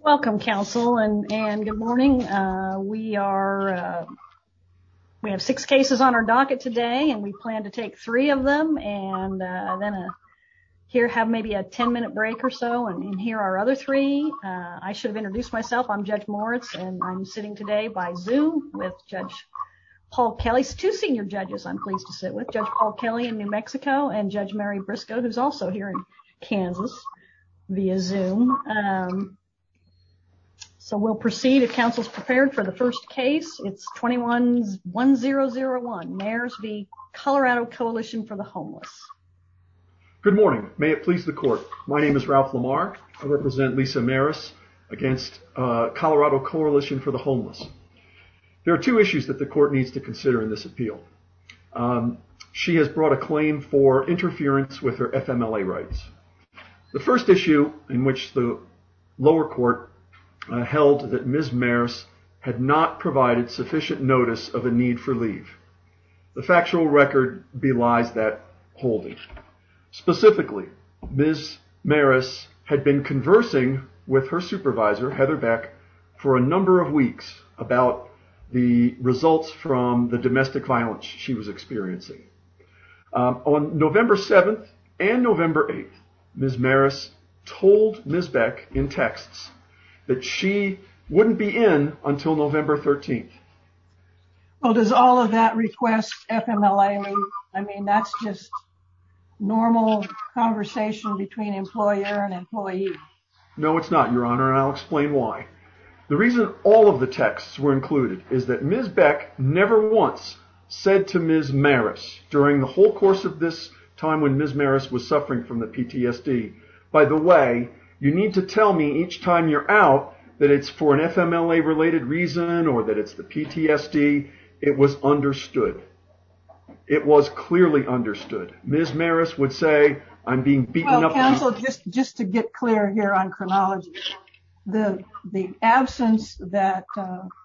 Welcome counsel and good morning. We have six cases on our docket today and we plan to take three of them and then here have maybe a 10-minute break or so and here are our other three. I should have introduced myself. I'm Judge Moritz and I'm sitting today by Zoom with Judge Paul Kelly. Two senior judges I'm pleased to sit with. Judge Paul Kelly in New Mexico and Judge Mary Briscoe who's also here in Kansas via Zoom. So we'll proceed if counsel's prepared for the first case. It's 21-1001 Mares v. Colorado Coalition for the Homeless. Good morning. May it please the court. My name is Ralph Lamar. I represent Lisa Maris against Colorado Coalition for the Homeless. There are two issues that the court needs to consider in this appeal. She has brought a claim for interference with her FMLA rights. The first issue in which the lower court held that Ms. Maris had not provided sufficient notice of a need for leave. The factual record belies that holding. Specifically, Ms. Maris had been conversing with her supervisor, Heather Beck, for a number of weeks about the results from the domestic violence she was experiencing. On November 7th and November 8th, Ms. Maris told Ms. Beck in texts that she wouldn't be in until November 13th. Well does all of that request FMLA leave? I mean that's just normal conversation between employer and employee. No it's not, Your Honor, and I'll explain why. The reason all of the texts were included is that Ms. Beck once said to Ms. Maris during the whole course of this time when Ms. Maris was suffering from the PTSD, by the way you need to tell me each time you're out that it's for an FMLA related reason or that it's the PTSD. It was understood. It was clearly understood. Ms. Maris would say I'm being beaten up. Counsel just to get clear here on chronology. The absence that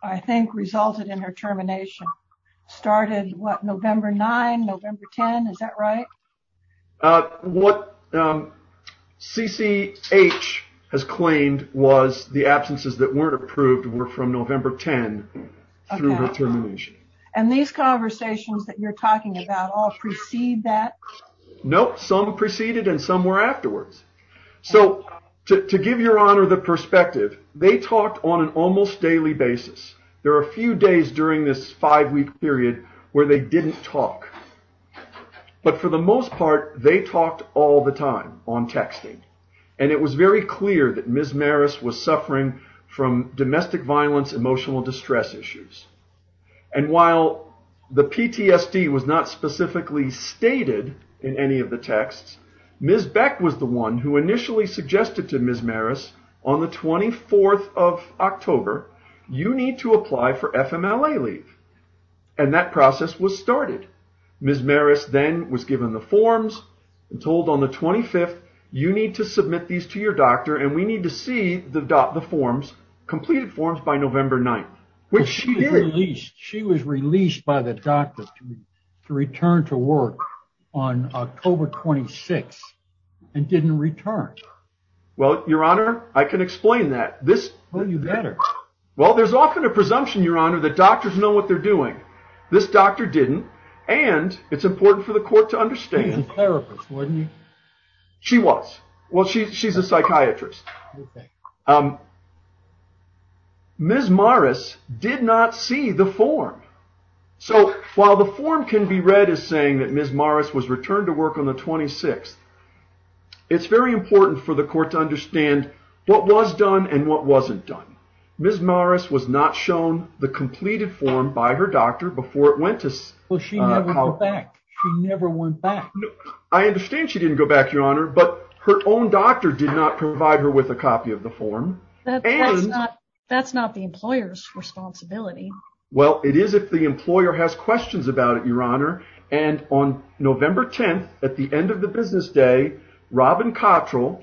I think resulted in her termination started what November 9, November 10, is that right? What CCH has claimed was the absences that weren't approved were from November 10 through her termination. And these conversations that you're talking about all precede that? Nope, some preceded and some were afterwards. So to give Your Honor the five-week period where they didn't talk. But for the most part they talked all the time on texting and it was very clear that Ms. Maris was suffering from domestic violence, emotional distress issues. And while the PTSD was not specifically stated in any of the texts, Ms. Beck was the one who initially suggested to Ms. Maris on the 24th of October, you need to apply for FMLA leave. And that process was started. Ms. Maris then was given the forms and told on the 25th, you need to submit these to your doctor and we need to see the forms, completed forms by November 9, which she did. She was released by the doctor to return to work on October 26 and didn't return. Well, Your Honor, I can explain that. Well, you better. Well, there's often a presumption, Your Honor, that doctors know what they're doing. This doctor didn't and it's important for the court to understand. She's a therapist, wasn't she? She was. Well, she's a While the form can be read as saying that Ms. Maris was returned to work on the 26th, it's very important for the court to understand what was done and what wasn't done. Ms. Maris was not shown the completed form by her doctor before it went to... Well, she never went back. She never went back. I understand she didn't go back, Your Honor, but her own doctor did not provide her with a copy of the form. That's not the employer's responsibility. Well, it is if the employer has questions about it, Your Honor, and on November 10th, at the end of the business day, Robin Cottrell,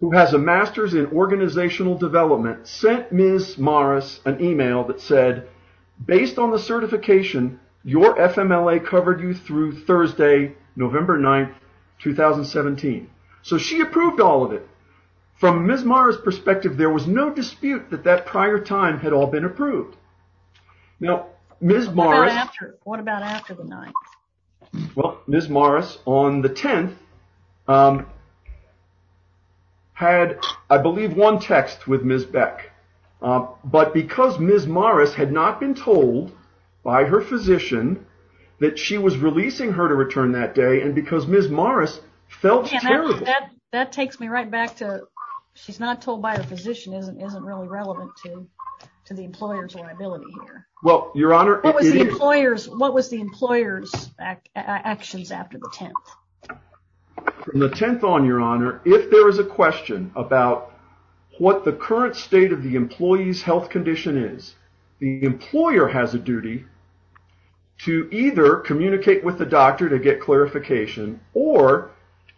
who has a master's in organizational development, sent Ms. Maris an email that said, based on the certification, your FMLA covered you through Thursday, November 9, 2017. So she approved all of it. From Ms. Maris' perspective, there was no dispute that that prior time had all been approved. Now, Ms. Maris... What about after the 9th? Well, Ms. Maris, on the 10th, had, I believe, one text with Ms. Beck, but because Ms. Maris had not been told by her physician that she was releasing her to return that day, and because Ms. Maris felt terrible... That takes me right back to, she's not told by her physician, isn't really relevant to the employer's liability here. Well, Your Honor... What was the employer's actions after the 10th? From the 10th on, Your Honor, if there is a question about what the current state of the employee's health condition is, the employer has a duty to either communicate with the doctor to get clarification, or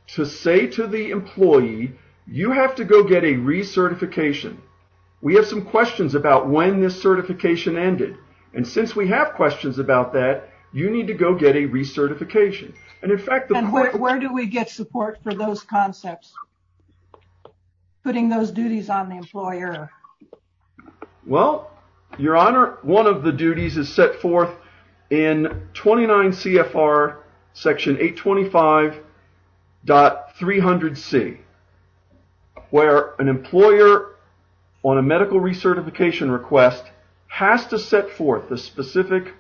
to say to the employee, you have to go get a recertification. We have some questions about when this certification ended, and since we have questions about that, you need to go get a recertification. And in fact... And where do we get support for those concepts, putting those duties on the employer? Well, Your Honor, one of the duties is set forth in 29 CFR section 825.300C, where an employer, on a medical recertification request, has to set forth the specific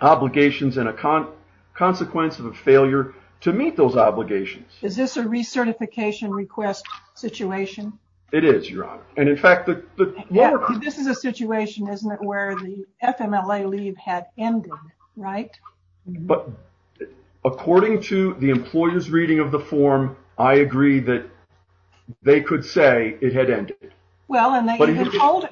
obligations and a consequence of a failure to meet those obligations. Is this a recertification request situation? It is, Your Honor, and in fact... This is a situation, isn't it, where the FMLA leave had ended, right? But according to the employer's reading of the form, I agree that they could say it had ended. Well, and they even told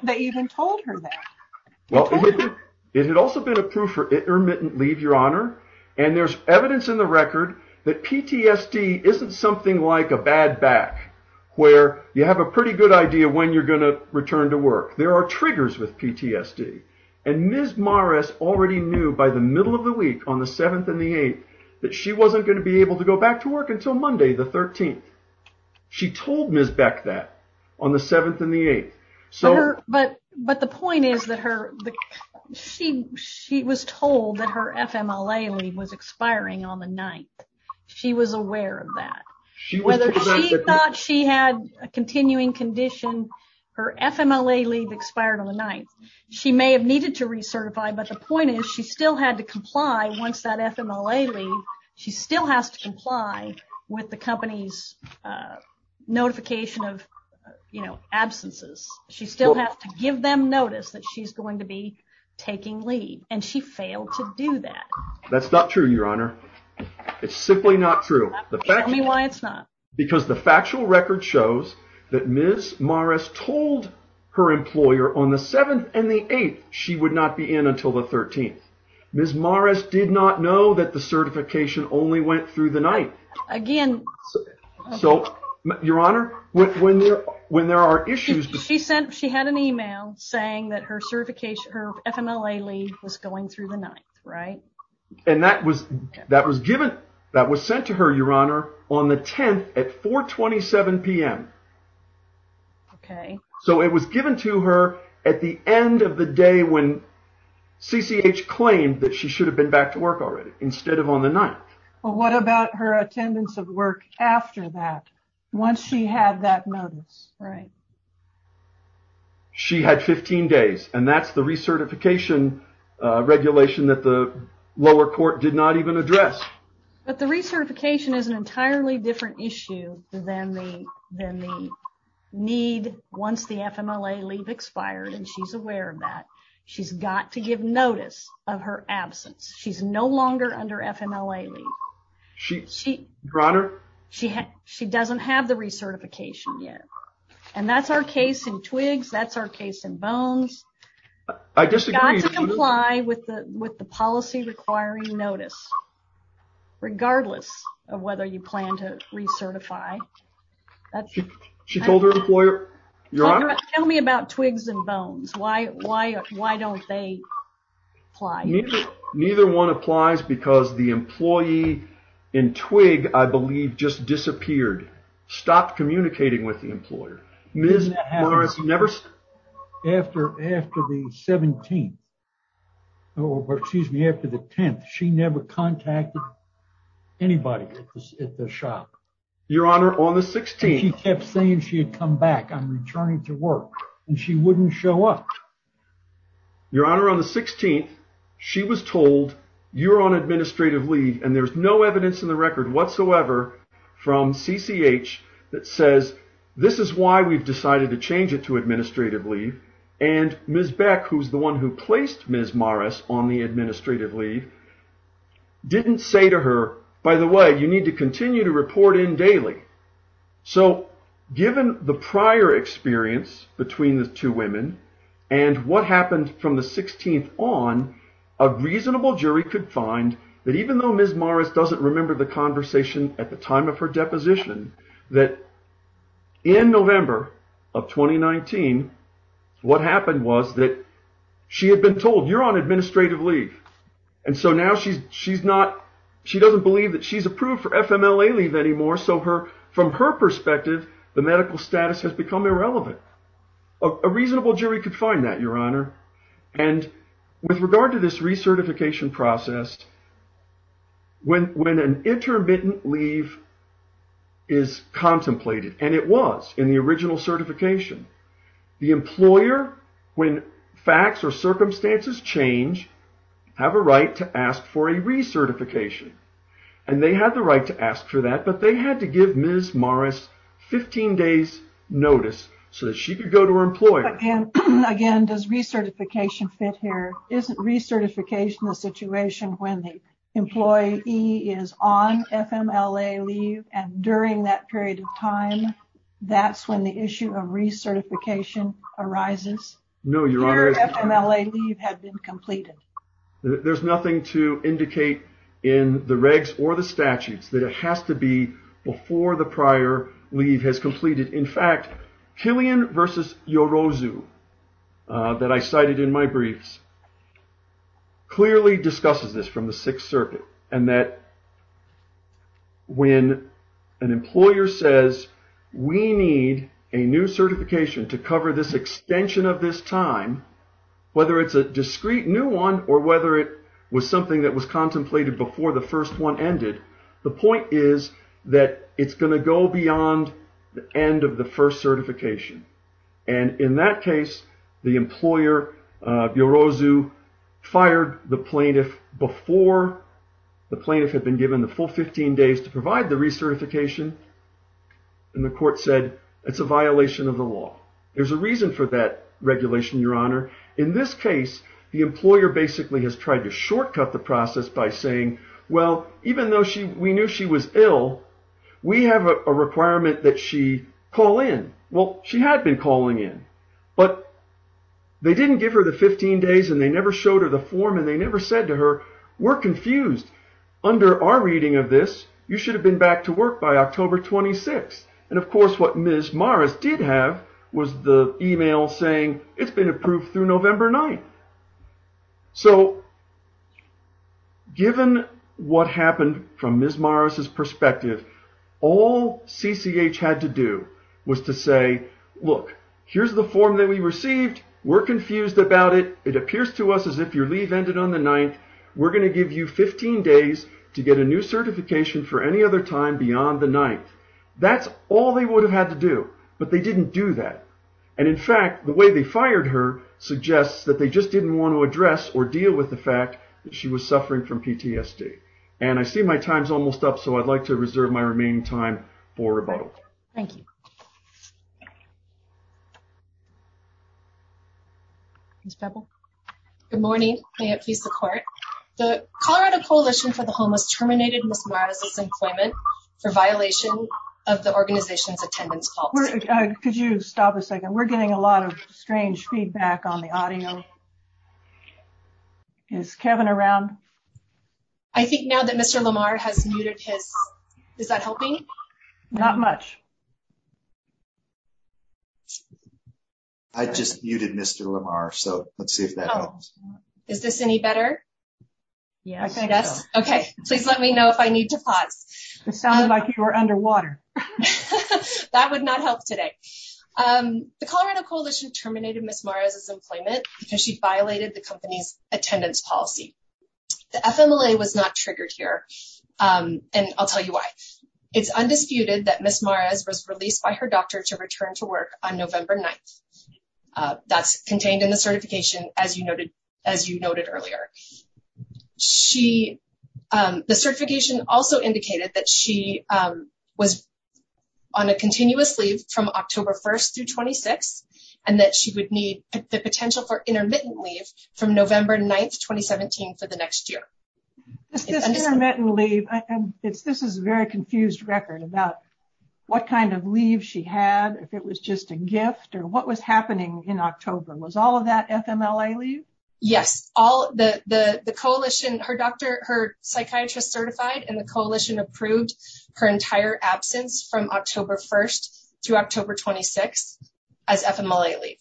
her that. It had also been approved for intermittent leave, Your Honor, and there's evidence in the record that PTSD isn't something like a bad back, where you have a pretty good idea when you're going to return to work. There are triggers with PTSD, and Ms. Morris already knew by the middle of the week, on the 7th and the 8th, that she wasn't going to be able to go back to work until Monday the 13th. She told Ms. Beck that on the 7th and the 8th. But the point is that she was told that her FMLA leave was expiring on the 9th. She was aware of that. She thought she had a continuing condition. Her FMLA leave expired on the 9th. She may have continued to recertify, but the point is she still had to comply, once that FMLA leave, she still has to comply with the company's notification of absences. She still has to give them notice that she's going to be taking leave, and she failed to do that. That's not true, Your Honor. It's simply not true. Tell me why it's not. Because the factual record shows that Ms. Morris told her that she would not be in until the 13th. Ms. Morris did not know that the certification only went through the 9th. Again... Your Honor, when there are issues... She had an email saying that her FMLA leave was going through the 9th, right? That was sent to her, Your Honor, on the 10th at 4 27 p.m. Okay. So it was given to her at the end of the day when CCH claimed that she should have been back to work already, instead of on the 9th. Well, what about her attendance of work after that, once she had that notice, right? She had 15 days, and that's the recertification regulation that the lower court did not even address. But the recertification is an entirely different issue than the need once the FMLA leave expired, and she's aware of that. She's got to give notice of her absence. She's no longer under FMLA leave. Your Honor? She doesn't have the recertification yet, and that's our case in twigs. That's our case in bones. I disagree. You've got to comply with the policy requiring notice, regardless of whether you plan to recertify. She told her employer... Your Honor? Tell me about twigs and bones. Why don't they apply? Neither one applies because the employee in twig, I believe, just disappeared. Stopped communicating with the employer. Ms. Morris never... After the 17th, or excuse me, after the 10th, she never contacted anybody at the shop. Your Honor, on the 16th... She kept saying she had come back. I'm returning to work, and she wouldn't show up. Your Honor, on the 16th, she was told, you're on administrative leave, and there's no evidence in the record whatsoever from CCH that says, this is why we've decided to change it to administrative leave, and Ms. Beck, who's the one who placed Ms. Morris on the administrative leave, didn't say to her, by the way, you need to continue to report in daily. Given the prior experience between the two women, and what happened from the 16th on, a reasonable jury could find that even though Ms. Morris doesn't remember the conversation at the time of her deposition, that in November of 2019, what happened was that she had been told, you're on administrative leave, and so now she doesn't believe that she's approved for FMLA leave anymore, so from her perspective, the medical status has become irrelevant. A reasonable jury could find that, Your Honor, and with regard to this recertification process, when an intermittent leave is contemplated, and it was in the original certification, the employer, when facts or circumstances change, have a right to ask for a recertification, and they had the right to ask for that, but they had to give Ms. Morris 15 days notice so that she could go to her employer. Again, does recertification fit here? Isn't recertification a situation when the employee is on FMLA leave, and during that period of time, that's when the issue of recertification arises? No, Your Honor. Their FMLA leave had been completed. There's nothing to indicate in the regs or the statutes that it has to be before the prior leave has completed. In fact, Killian versus Yorozu, that I cited in my briefs, clearly discusses this from the Sixth Circuit, and that when an employer says, we need a new certification to cover this extension of this time, whether it's a discrete new one or whether it was something that was contemplated before the first one ended, the point is that it's going to go beyond the end of the first certification. In that case, the employer, Yorozu, fired the plaintiff before the plaintiff had been given the full 15 days to provide the recertification, and the court said it's a violation of the law. There's a reason for that regulation, Your Honor. In this case, the employer basically has tried to shortcut the process by saying, well, even though we knew she was ill, we have a requirement that she call in. Well, she had been calling in, but they didn't give her the 15 days, and they never showed her the form, and they never said to her, we're confused. Under our reading of this, you should have been back to work by October 26th. And of course, what Ms. Morris did have was the email saying it's been approved through November 9th. So given what happened from Ms. Morris' perspective, all CCH had to do was to say, look, here's the form that we received. We're confused about it. It appears to us as if your leave ended on the 9th. We're going to give you 15 days to get a new certification for any other time beyond the 9th. That's all they would have had to do, but they didn't do that. And in fact, the way they fired her suggests that they just didn't want to address or deal with the fact that she was suffering from PTSD. And I see my time's almost up, so I'd like to reserve my remaining time for rebuttal. Thank you. Ms. Pebble. Good morning. May it please the court. The Colorado Coalition for the Homeless terminated Ms. Morris' employment for violation of the organization's attendance policy. Could you stop a second? We're getting a lot of strange feedback on the audio. Is Kevin around? I think now that Mr. Lamar has muted his, is that helping? Not much. I just muted Mr. Lamar, so let's see if that helps. Is this any better? Yeah, I think so. Okay, please let me know if I need to pause. It sounded like you were underwater. That would not help today. The Colorado Coalition terminated Ms. Morris' employment because she violated the company's attendance policy. The FMLA was not triggered here, and I'll tell you why. It's undisputed that Ms. Morris was released by her doctor to return to work on November 9th. That's contained in the certification, as you noted earlier. The certification also indicated that she was on a continuous leave from October 1st through 26th, and that she would need the potential for intermittent leave from November 9th, 2017, for the next year. Is this intermittent leave? This is a very confused record about what kind of leave she had, if it was just a gift, or what was happening in October. Was all of that FMLA leave? Yes. Her psychiatrist certified, and the Coalition approved her entire absence from October 1st through October 26th as FMLA leave.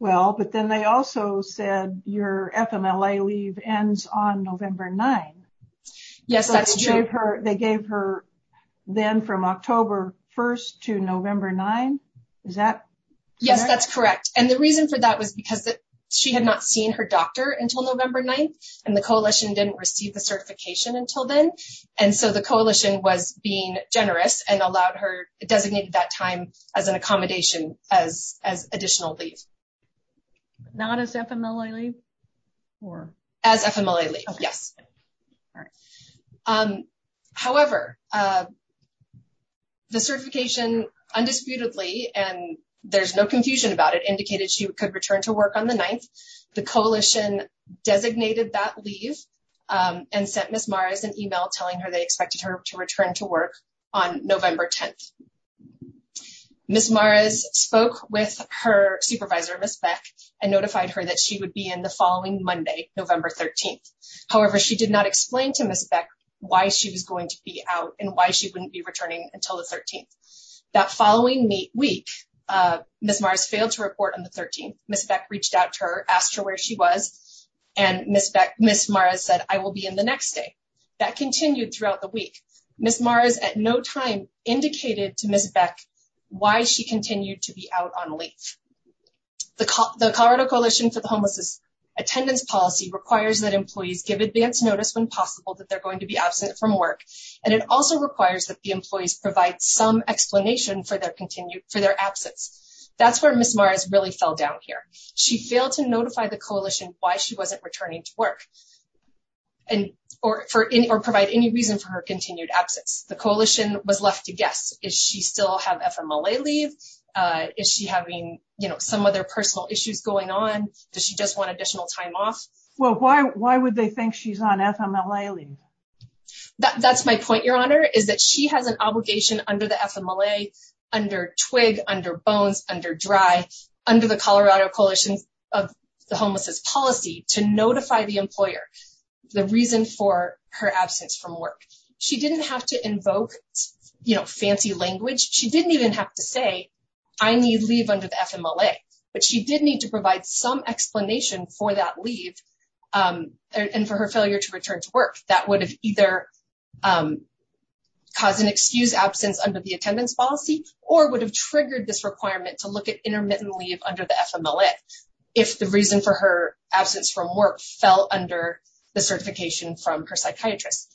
Well, but then they also said your FMLA leave ends on November 9th. Yes, that's true. They gave her then from October 1st to November 9th. Is that correct? Yes, that's correct. And the reason for that was because she had not seen her doctor until November 9th, and the Coalition didn't receive the certification until then. And so the Coalition was being generous and allowed her, designated that time as an accommodation as additional leave. Not as FMLA leave? As FMLA leave, yes. All right. However, the certification, undisputedly, and there's no confusion about it, indicated she could return to work on the 9th. The Coalition designated that leave and sent Ms. Maras an email telling her they expected her to return to work on November 10th. Ms. Maras spoke with her supervisor, Ms. Beck, and notified her that she would be in the following Monday, November 13th. However, she did not explain to Ms. Beck why she was going to be out and why she wouldn't be returning until the 13th. That following week, Ms. Maras failed to report on the 13th. Ms. Beck reached out to her, asked her where she was, and Ms. Maras said, I will be in the next day. That continued throughout the week. Ms. Maras, at no time, indicated to Ms. Beck why she continued to be out on leave. The Colorado Coalition for the Homelessness Attendance Policy requires that employees give advance notice when possible that they're going to be absent from work, and it also requires that the employees provide some explanation for their absence. That's where Ms. Maras really fell down here. She failed to notify the Coalition why she wasn't returning to work or provide any reason for her continued absence. The Coalition was left to guess is she still have FMLA leave? Is she having some other personal issues going on? Does she just want additional time off? Well, why would they think she's on FMLA leave? That's my point, Your Honor, is that she has an obligation under the FMLA, under TWIG, under Bones, under DRY, under the Colorado Coalition of the Homelessness Policy to notify the employer the reason for her absence. She didn't even have to say, I need leave under the FMLA, but she did need to provide some explanation for that leave and for her failure to return to work. That would have either caused an excused absence under the attendance policy or would have triggered this requirement to look at intermittent leave under the FMLA if the reason for her absence from work fell under the certification from her psychiatrist.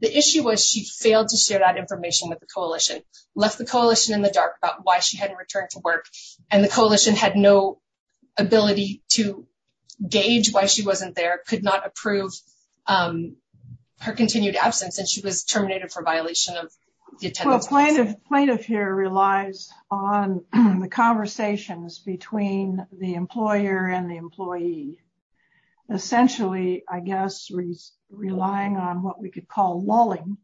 The issue was she failed to share that information with the Coalition, left the Coalition in the dark about why she hadn't returned to work, and the Coalition had no ability to gauge why she wasn't there, could not approve her continued absence, and she was terminated for violation of the attendance policy. Plaintiff here relies on the conversations between the employer and the employee, essentially, I guess, relying on what we could call lulling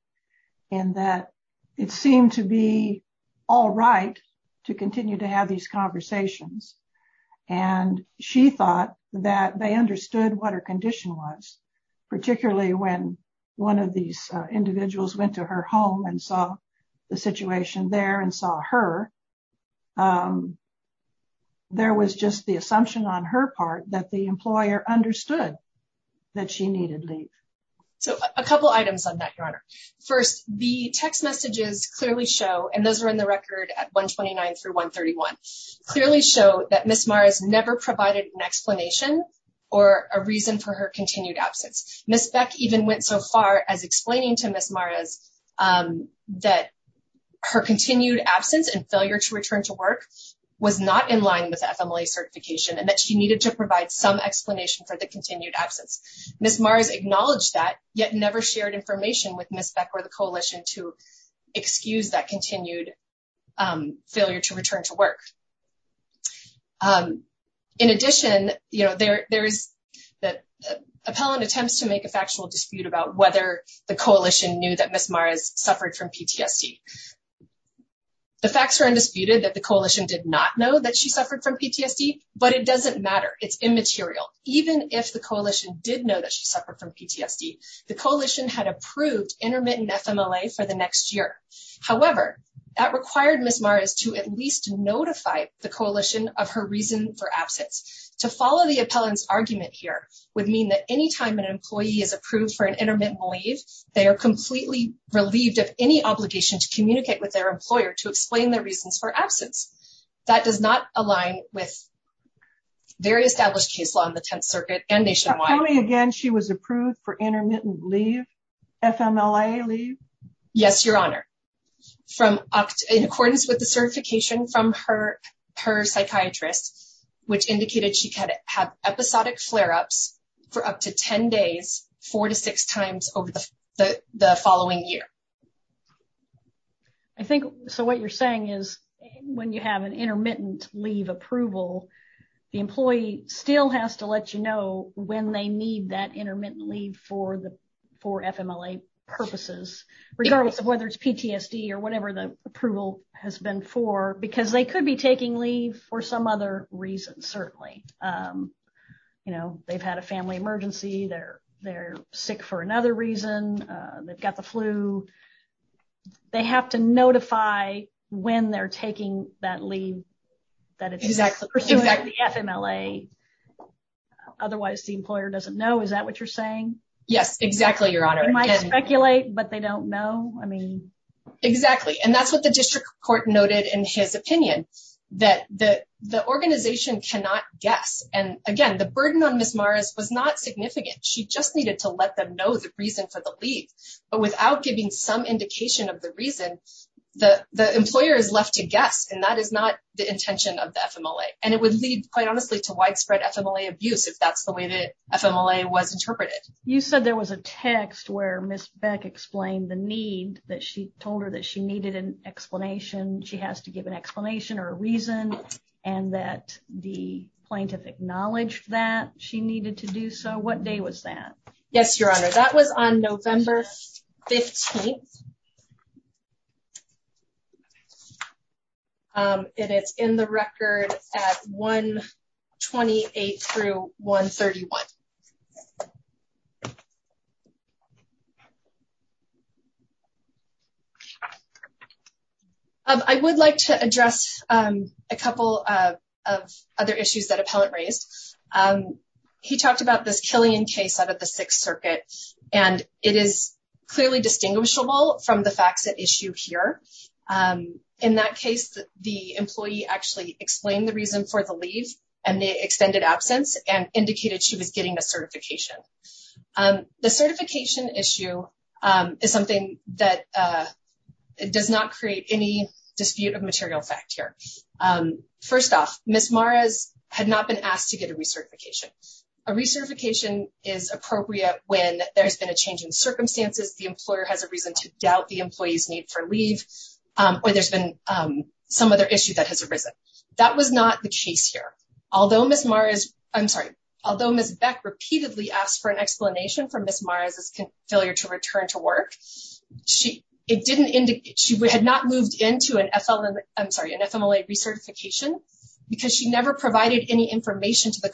in that it seemed to be all right to continue to have these conversations, and she thought that they understood what her condition was, particularly when one of these individuals went to her home and saw the situation there and saw her, there was just the assumption on her part that the employer understood that she needed leave. So a couple items on that, Your Honor. First, the text messages clearly show, and those are in the record at 129 through 131, clearly show that Ms. Maras never provided an explanation or a reason for her continued absence. Ms. Beck even went so far as explaining to Ms. Maras that her continued absence and failure to return to work was not in line with FMLA certification and that she needed to provide some explanation for the continued absence. Ms. Maras acknowledged that, yet never shared information with Ms. Beck or the Coalition to excuse that continued failure to return to work. In addition, there is the appellant attempts to make a factual dispute about whether the Coalition knew that Ms. Maras suffered from PTSD. The facts are undisputed that the Coalition did not know that she suffered from PTSD, but it doesn't matter. It's immaterial. Even if the Coalition did know that she suffered from PTSD, the Coalition had approved intermittent FMLA for the next year. However, that required Ms. Maras to at least notify the Coalition of her reason for absence. To follow the appellant's belief, they are completely relieved of any obligation to communicate with their employer to explain their reasons for absence. That does not align with very established case law in the Tenth Circuit and nationwide. Tell me again, she was approved for intermittent leave? FMLA leave? Yes, Your Honor. In accordance with the certification from her psychiatrist, which indicated she could have episodic flare-ups for up to 10 days, four to six times over the following year. I think, so what you're saying is when you have an intermittent leave approval, the employee still has to let you know when they need that intermittent leave for FMLA purposes, regardless of whether it's PTSD or whatever the approval has been for, because they could be taking leave for some other reason, certainly. They've had a family emergency. They're sick for another reason. They've got the flu. They have to notify when they're taking that leave that it's pursuing the FMLA. Otherwise, the employer doesn't know. Is that what you're saying? Yes, exactly, Your Honor. They might speculate, but they don't know. Exactly, and that's what the district court noted in his opinion, that the organization cannot guess. Again, the burden on Ms. Maras was not significant. She just needed to let them know the reason for the leave, but without giving some indication of the reason, the employer is left to guess, and that is not the intention of the FMLA. It would lead, quite honestly, to widespread FMLA abuse, if that's the way the FMLA was interpreted. You said there was a text where Ms. Beck explained the need, that she told her that she needed an explanation, she has to give an explanation or a reason, and that the plaintiff acknowledged that she needed to do so. What day was that? Yes, Your Honor. That was on November 15th, and it's in the record at 1-28 through 1-31. I would like to address a couple of other issues that appellant raised. He talked about this Killian case out of the Sixth Circuit, and it is clearly distinguishable from the facts at issue here. In that case, the employee actually explained the reason for the leave and the extended absence, and indicated she was getting a certification. The certification issue is something that does not create any dispute of material fact here. First off, Ms. Maras had not been asked to get a recertification. A recertification is appropriate when there's been a change in circumstances, the employer has a reason to doubt the employee's need for leave, or there's been some other issue that has arisen. That was not the case here. Although Ms. Beck repeatedly asked for an explanation for Ms. Maras' failure to return to work, she had not moved into an FMLA recertification because she never provided any information to the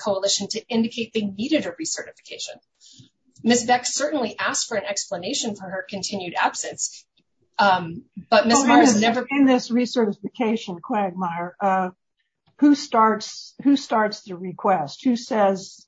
employer. Ms. Beck certainly asked for an explanation for her continued absence, but Ms. Maras never- In this recertification, who starts the request? Who says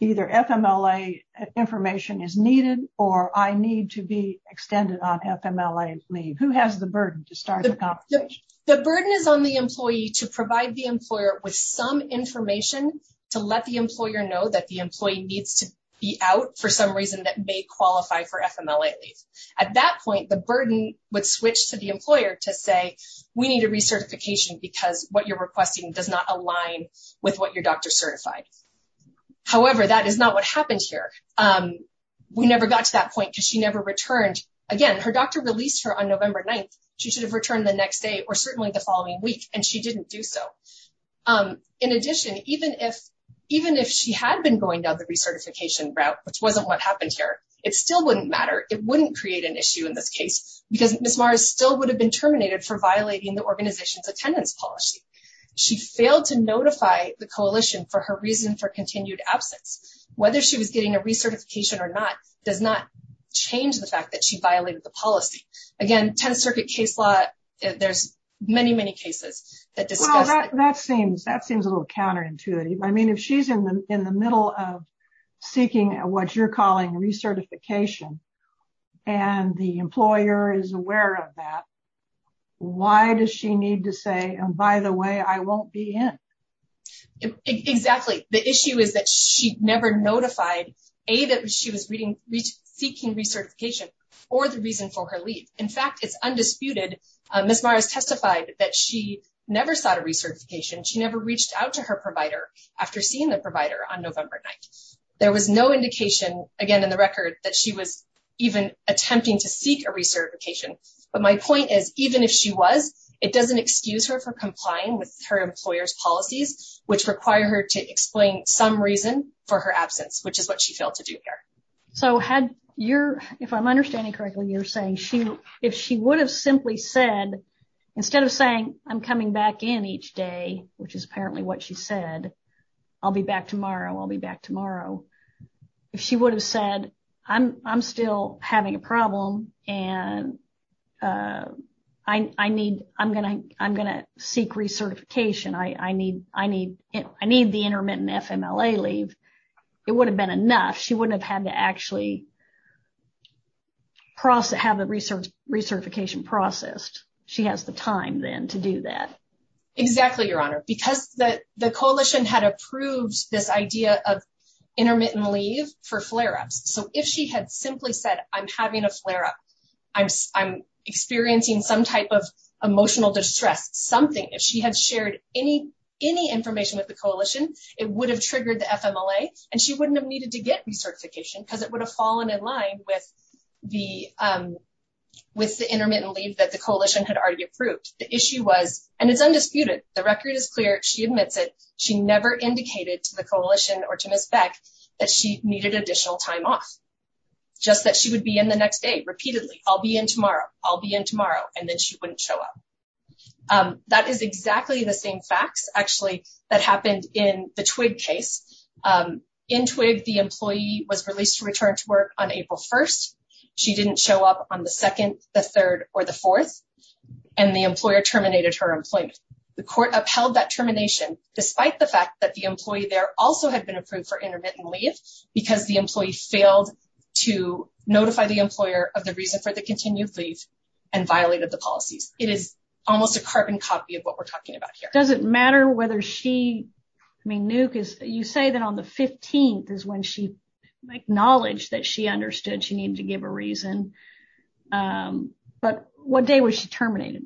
either FMLA information is needed, or I need to be extended on FMLA leave? Who has the burden to start the conversation? The burden is on the employee to provide the employer with some information to know that the employee needs to be out for some reason that may qualify for FMLA leave. At that point, the burden would switch to the employer to say, we need a recertification because what you're requesting does not align with what your doctor certified. However, that is not what happened here. We never got to that point because she never returned. Again, her doctor released her on November 9th. She should have returned the next day or certainly the following week, and she didn't do so. In addition, even if she had been going down the recertification route, which wasn't what happened here, it still wouldn't matter. It wouldn't create an issue in this case because Ms. Maras still would have been terminated for violating the organization's attendance policy. She failed to notify the coalition for her reason for continued absence. Whether she was getting a recertification or not does not change the fact that she violated the That seems a little counterintuitive. I mean, if she's in the middle of seeking what you're calling recertification and the employer is aware of that, why does she need to say, by the way, I won't be in? Exactly. The issue is that she never notified, A, that she was seeking recertification or the reason for her leave. In fact, it's undisputed. Ms. Maras testified that she never sought a recertification. She never reached out to her provider after seeing the provider on November 9th. There was no indication, again, in the record that she was even attempting to seek a recertification. But my point is, even if she was, it doesn't excuse her for complying with her employer's policies, which require her to explain some absence, which is what she failed to do here. So, if I'm understanding correctly, you're saying if she would have simply said, instead of saying, I'm coming back in each day, which is apparently what she said, I'll be back tomorrow, I'll be back tomorrow. If she would have said, I'm still having a problem and I'm going to seek recertification, I need the intermittent FMLA leave, it would have been enough. She wouldn't have had to actually have the recertification processed. She has the time then to do that. Exactly, Your Honor. Because the coalition had approved this idea of intermittent leave for flare-ups. So, if she had simply said, I'm having a flare-up, I'm experiencing some type of any information with the coalition, it would have triggered the FMLA and she wouldn't have needed to get recertification because it would have fallen in line with the intermittent leave that the coalition had already approved. The issue was, and it's undisputed, the record is clear, she admits it, she never indicated to the coalition or to Ms. Beck that she needed additional time off. Just that she would be in the next day repeatedly, I'll be in tomorrow, I'll be in actually, that happened in the Twigg case. In Twigg, the employee was released to return to work on April 1st. She didn't show up on the 2nd, the 3rd, or the 4th, and the employer terminated her employment. The court upheld that termination despite the fact that the employee there also had been approved for intermittent leave because the employee failed to notify the employer of the reason for the continued leave and violated the policies. It is almost a carbon copy of what we're seeing. You say that on the 15th is when she acknowledged that she understood she needed to give a reason, but what day was she terminated,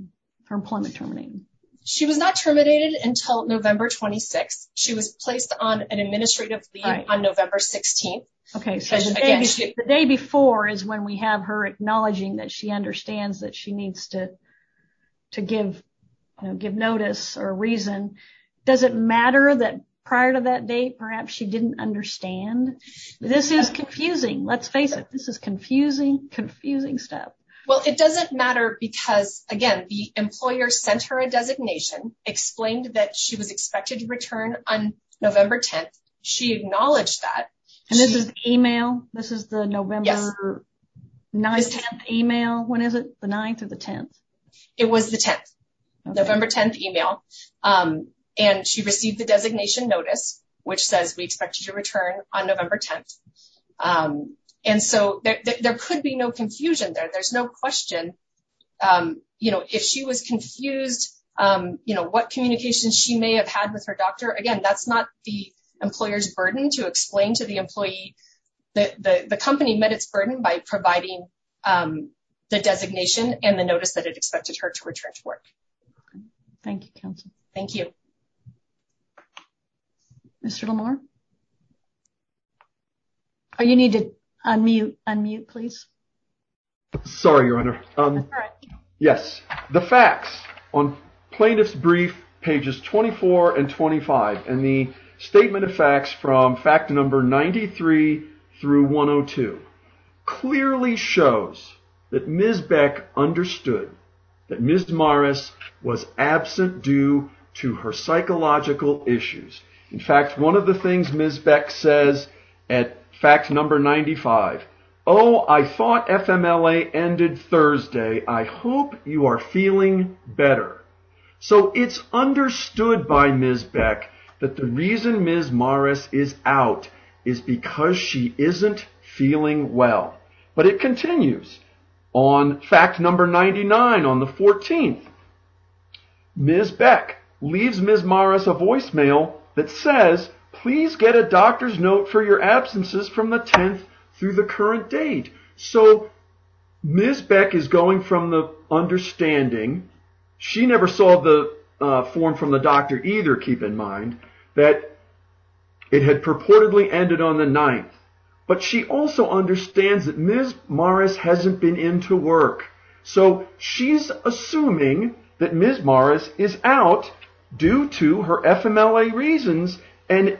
her employment terminated? She was not terminated until November 26th. She was placed on an administrative leave on November 16th. Okay, so the day before is when we have her acknowledging that she understands that she doesn't matter that prior to that date, perhaps she didn't understand. This is confusing. Let's face it, this is confusing, confusing stuff. Well, it doesn't matter because again, the employer sent her a designation, explained that she was expected to return on November 10th. She acknowledged that. And this is email, this is the November 9th email, when is it? The 9th or the 10th? It was the 10th, November 10th email. And she received the designation notice, which says we expect you to return on November 10th. And so there could be no confusion there. There's no question. If she was confused, what communications she may have had with her doctor, again, that's not the employer's burden to explain to the employee that the company met its burden by providing the designation and the notice that it expected her to return to work. Thank you, counsel. Thank you. Mr. Lamour? You need to unmute, please. Sorry, Your Honor. Yes, the facts on plaintiff's brief pages 24 and 25 and the statement of facts from fact number 93 through 102 clearly shows that Ms. Beck understood that Ms. Morris was absent due to her psychological issues. In fact, one of the things Ms. Beck says at fact number 95, oh, I thought FMLA ended Thursday. I hope you are feeling better. So it's understood by Ms. Beck that the reason Ms. Morris is out is because she isn't feeling well. But it continues on fact number 99 on the 14th. Ms. Beck leaves Ms. Morris a voicemail that says, please get a doctor's note for your absences from the 10th through the current date. So Ms. Beck is going from the that it had purportedly ended on the 9th. But she also understands that Ms. Morris hasn't been into work. So she's assuming that Ms. Morris is out due to her FMLA reasons. And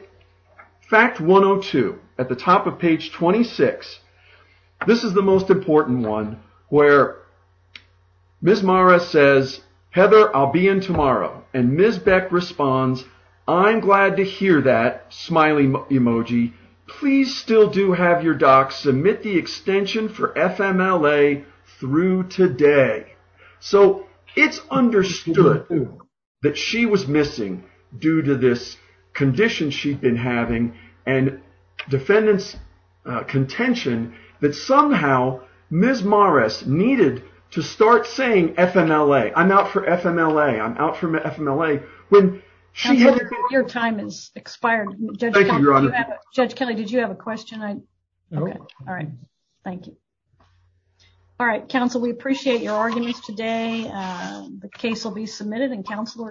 fact 102 at the top of page 26, this is the most important one where Ms. Morris says, Heather, I'll be in tomorrow. And Ms. Beck responds, I'm glad to hear that, smiley emoji. Please still do have your docs submit the extension for FMLA through today. So it's understood that she was missing due to this condition she'd been having and defendant's contention that somehow Ms. Morris needed to start saying FMLA. I'm out for FMLA. I'm out for FMLA. Your time has expired. Judge Kelly, did you have a question? All right. Thank you. All right. Counsel, we appreciate your arguments today. The case will be submitted and counsel are excused.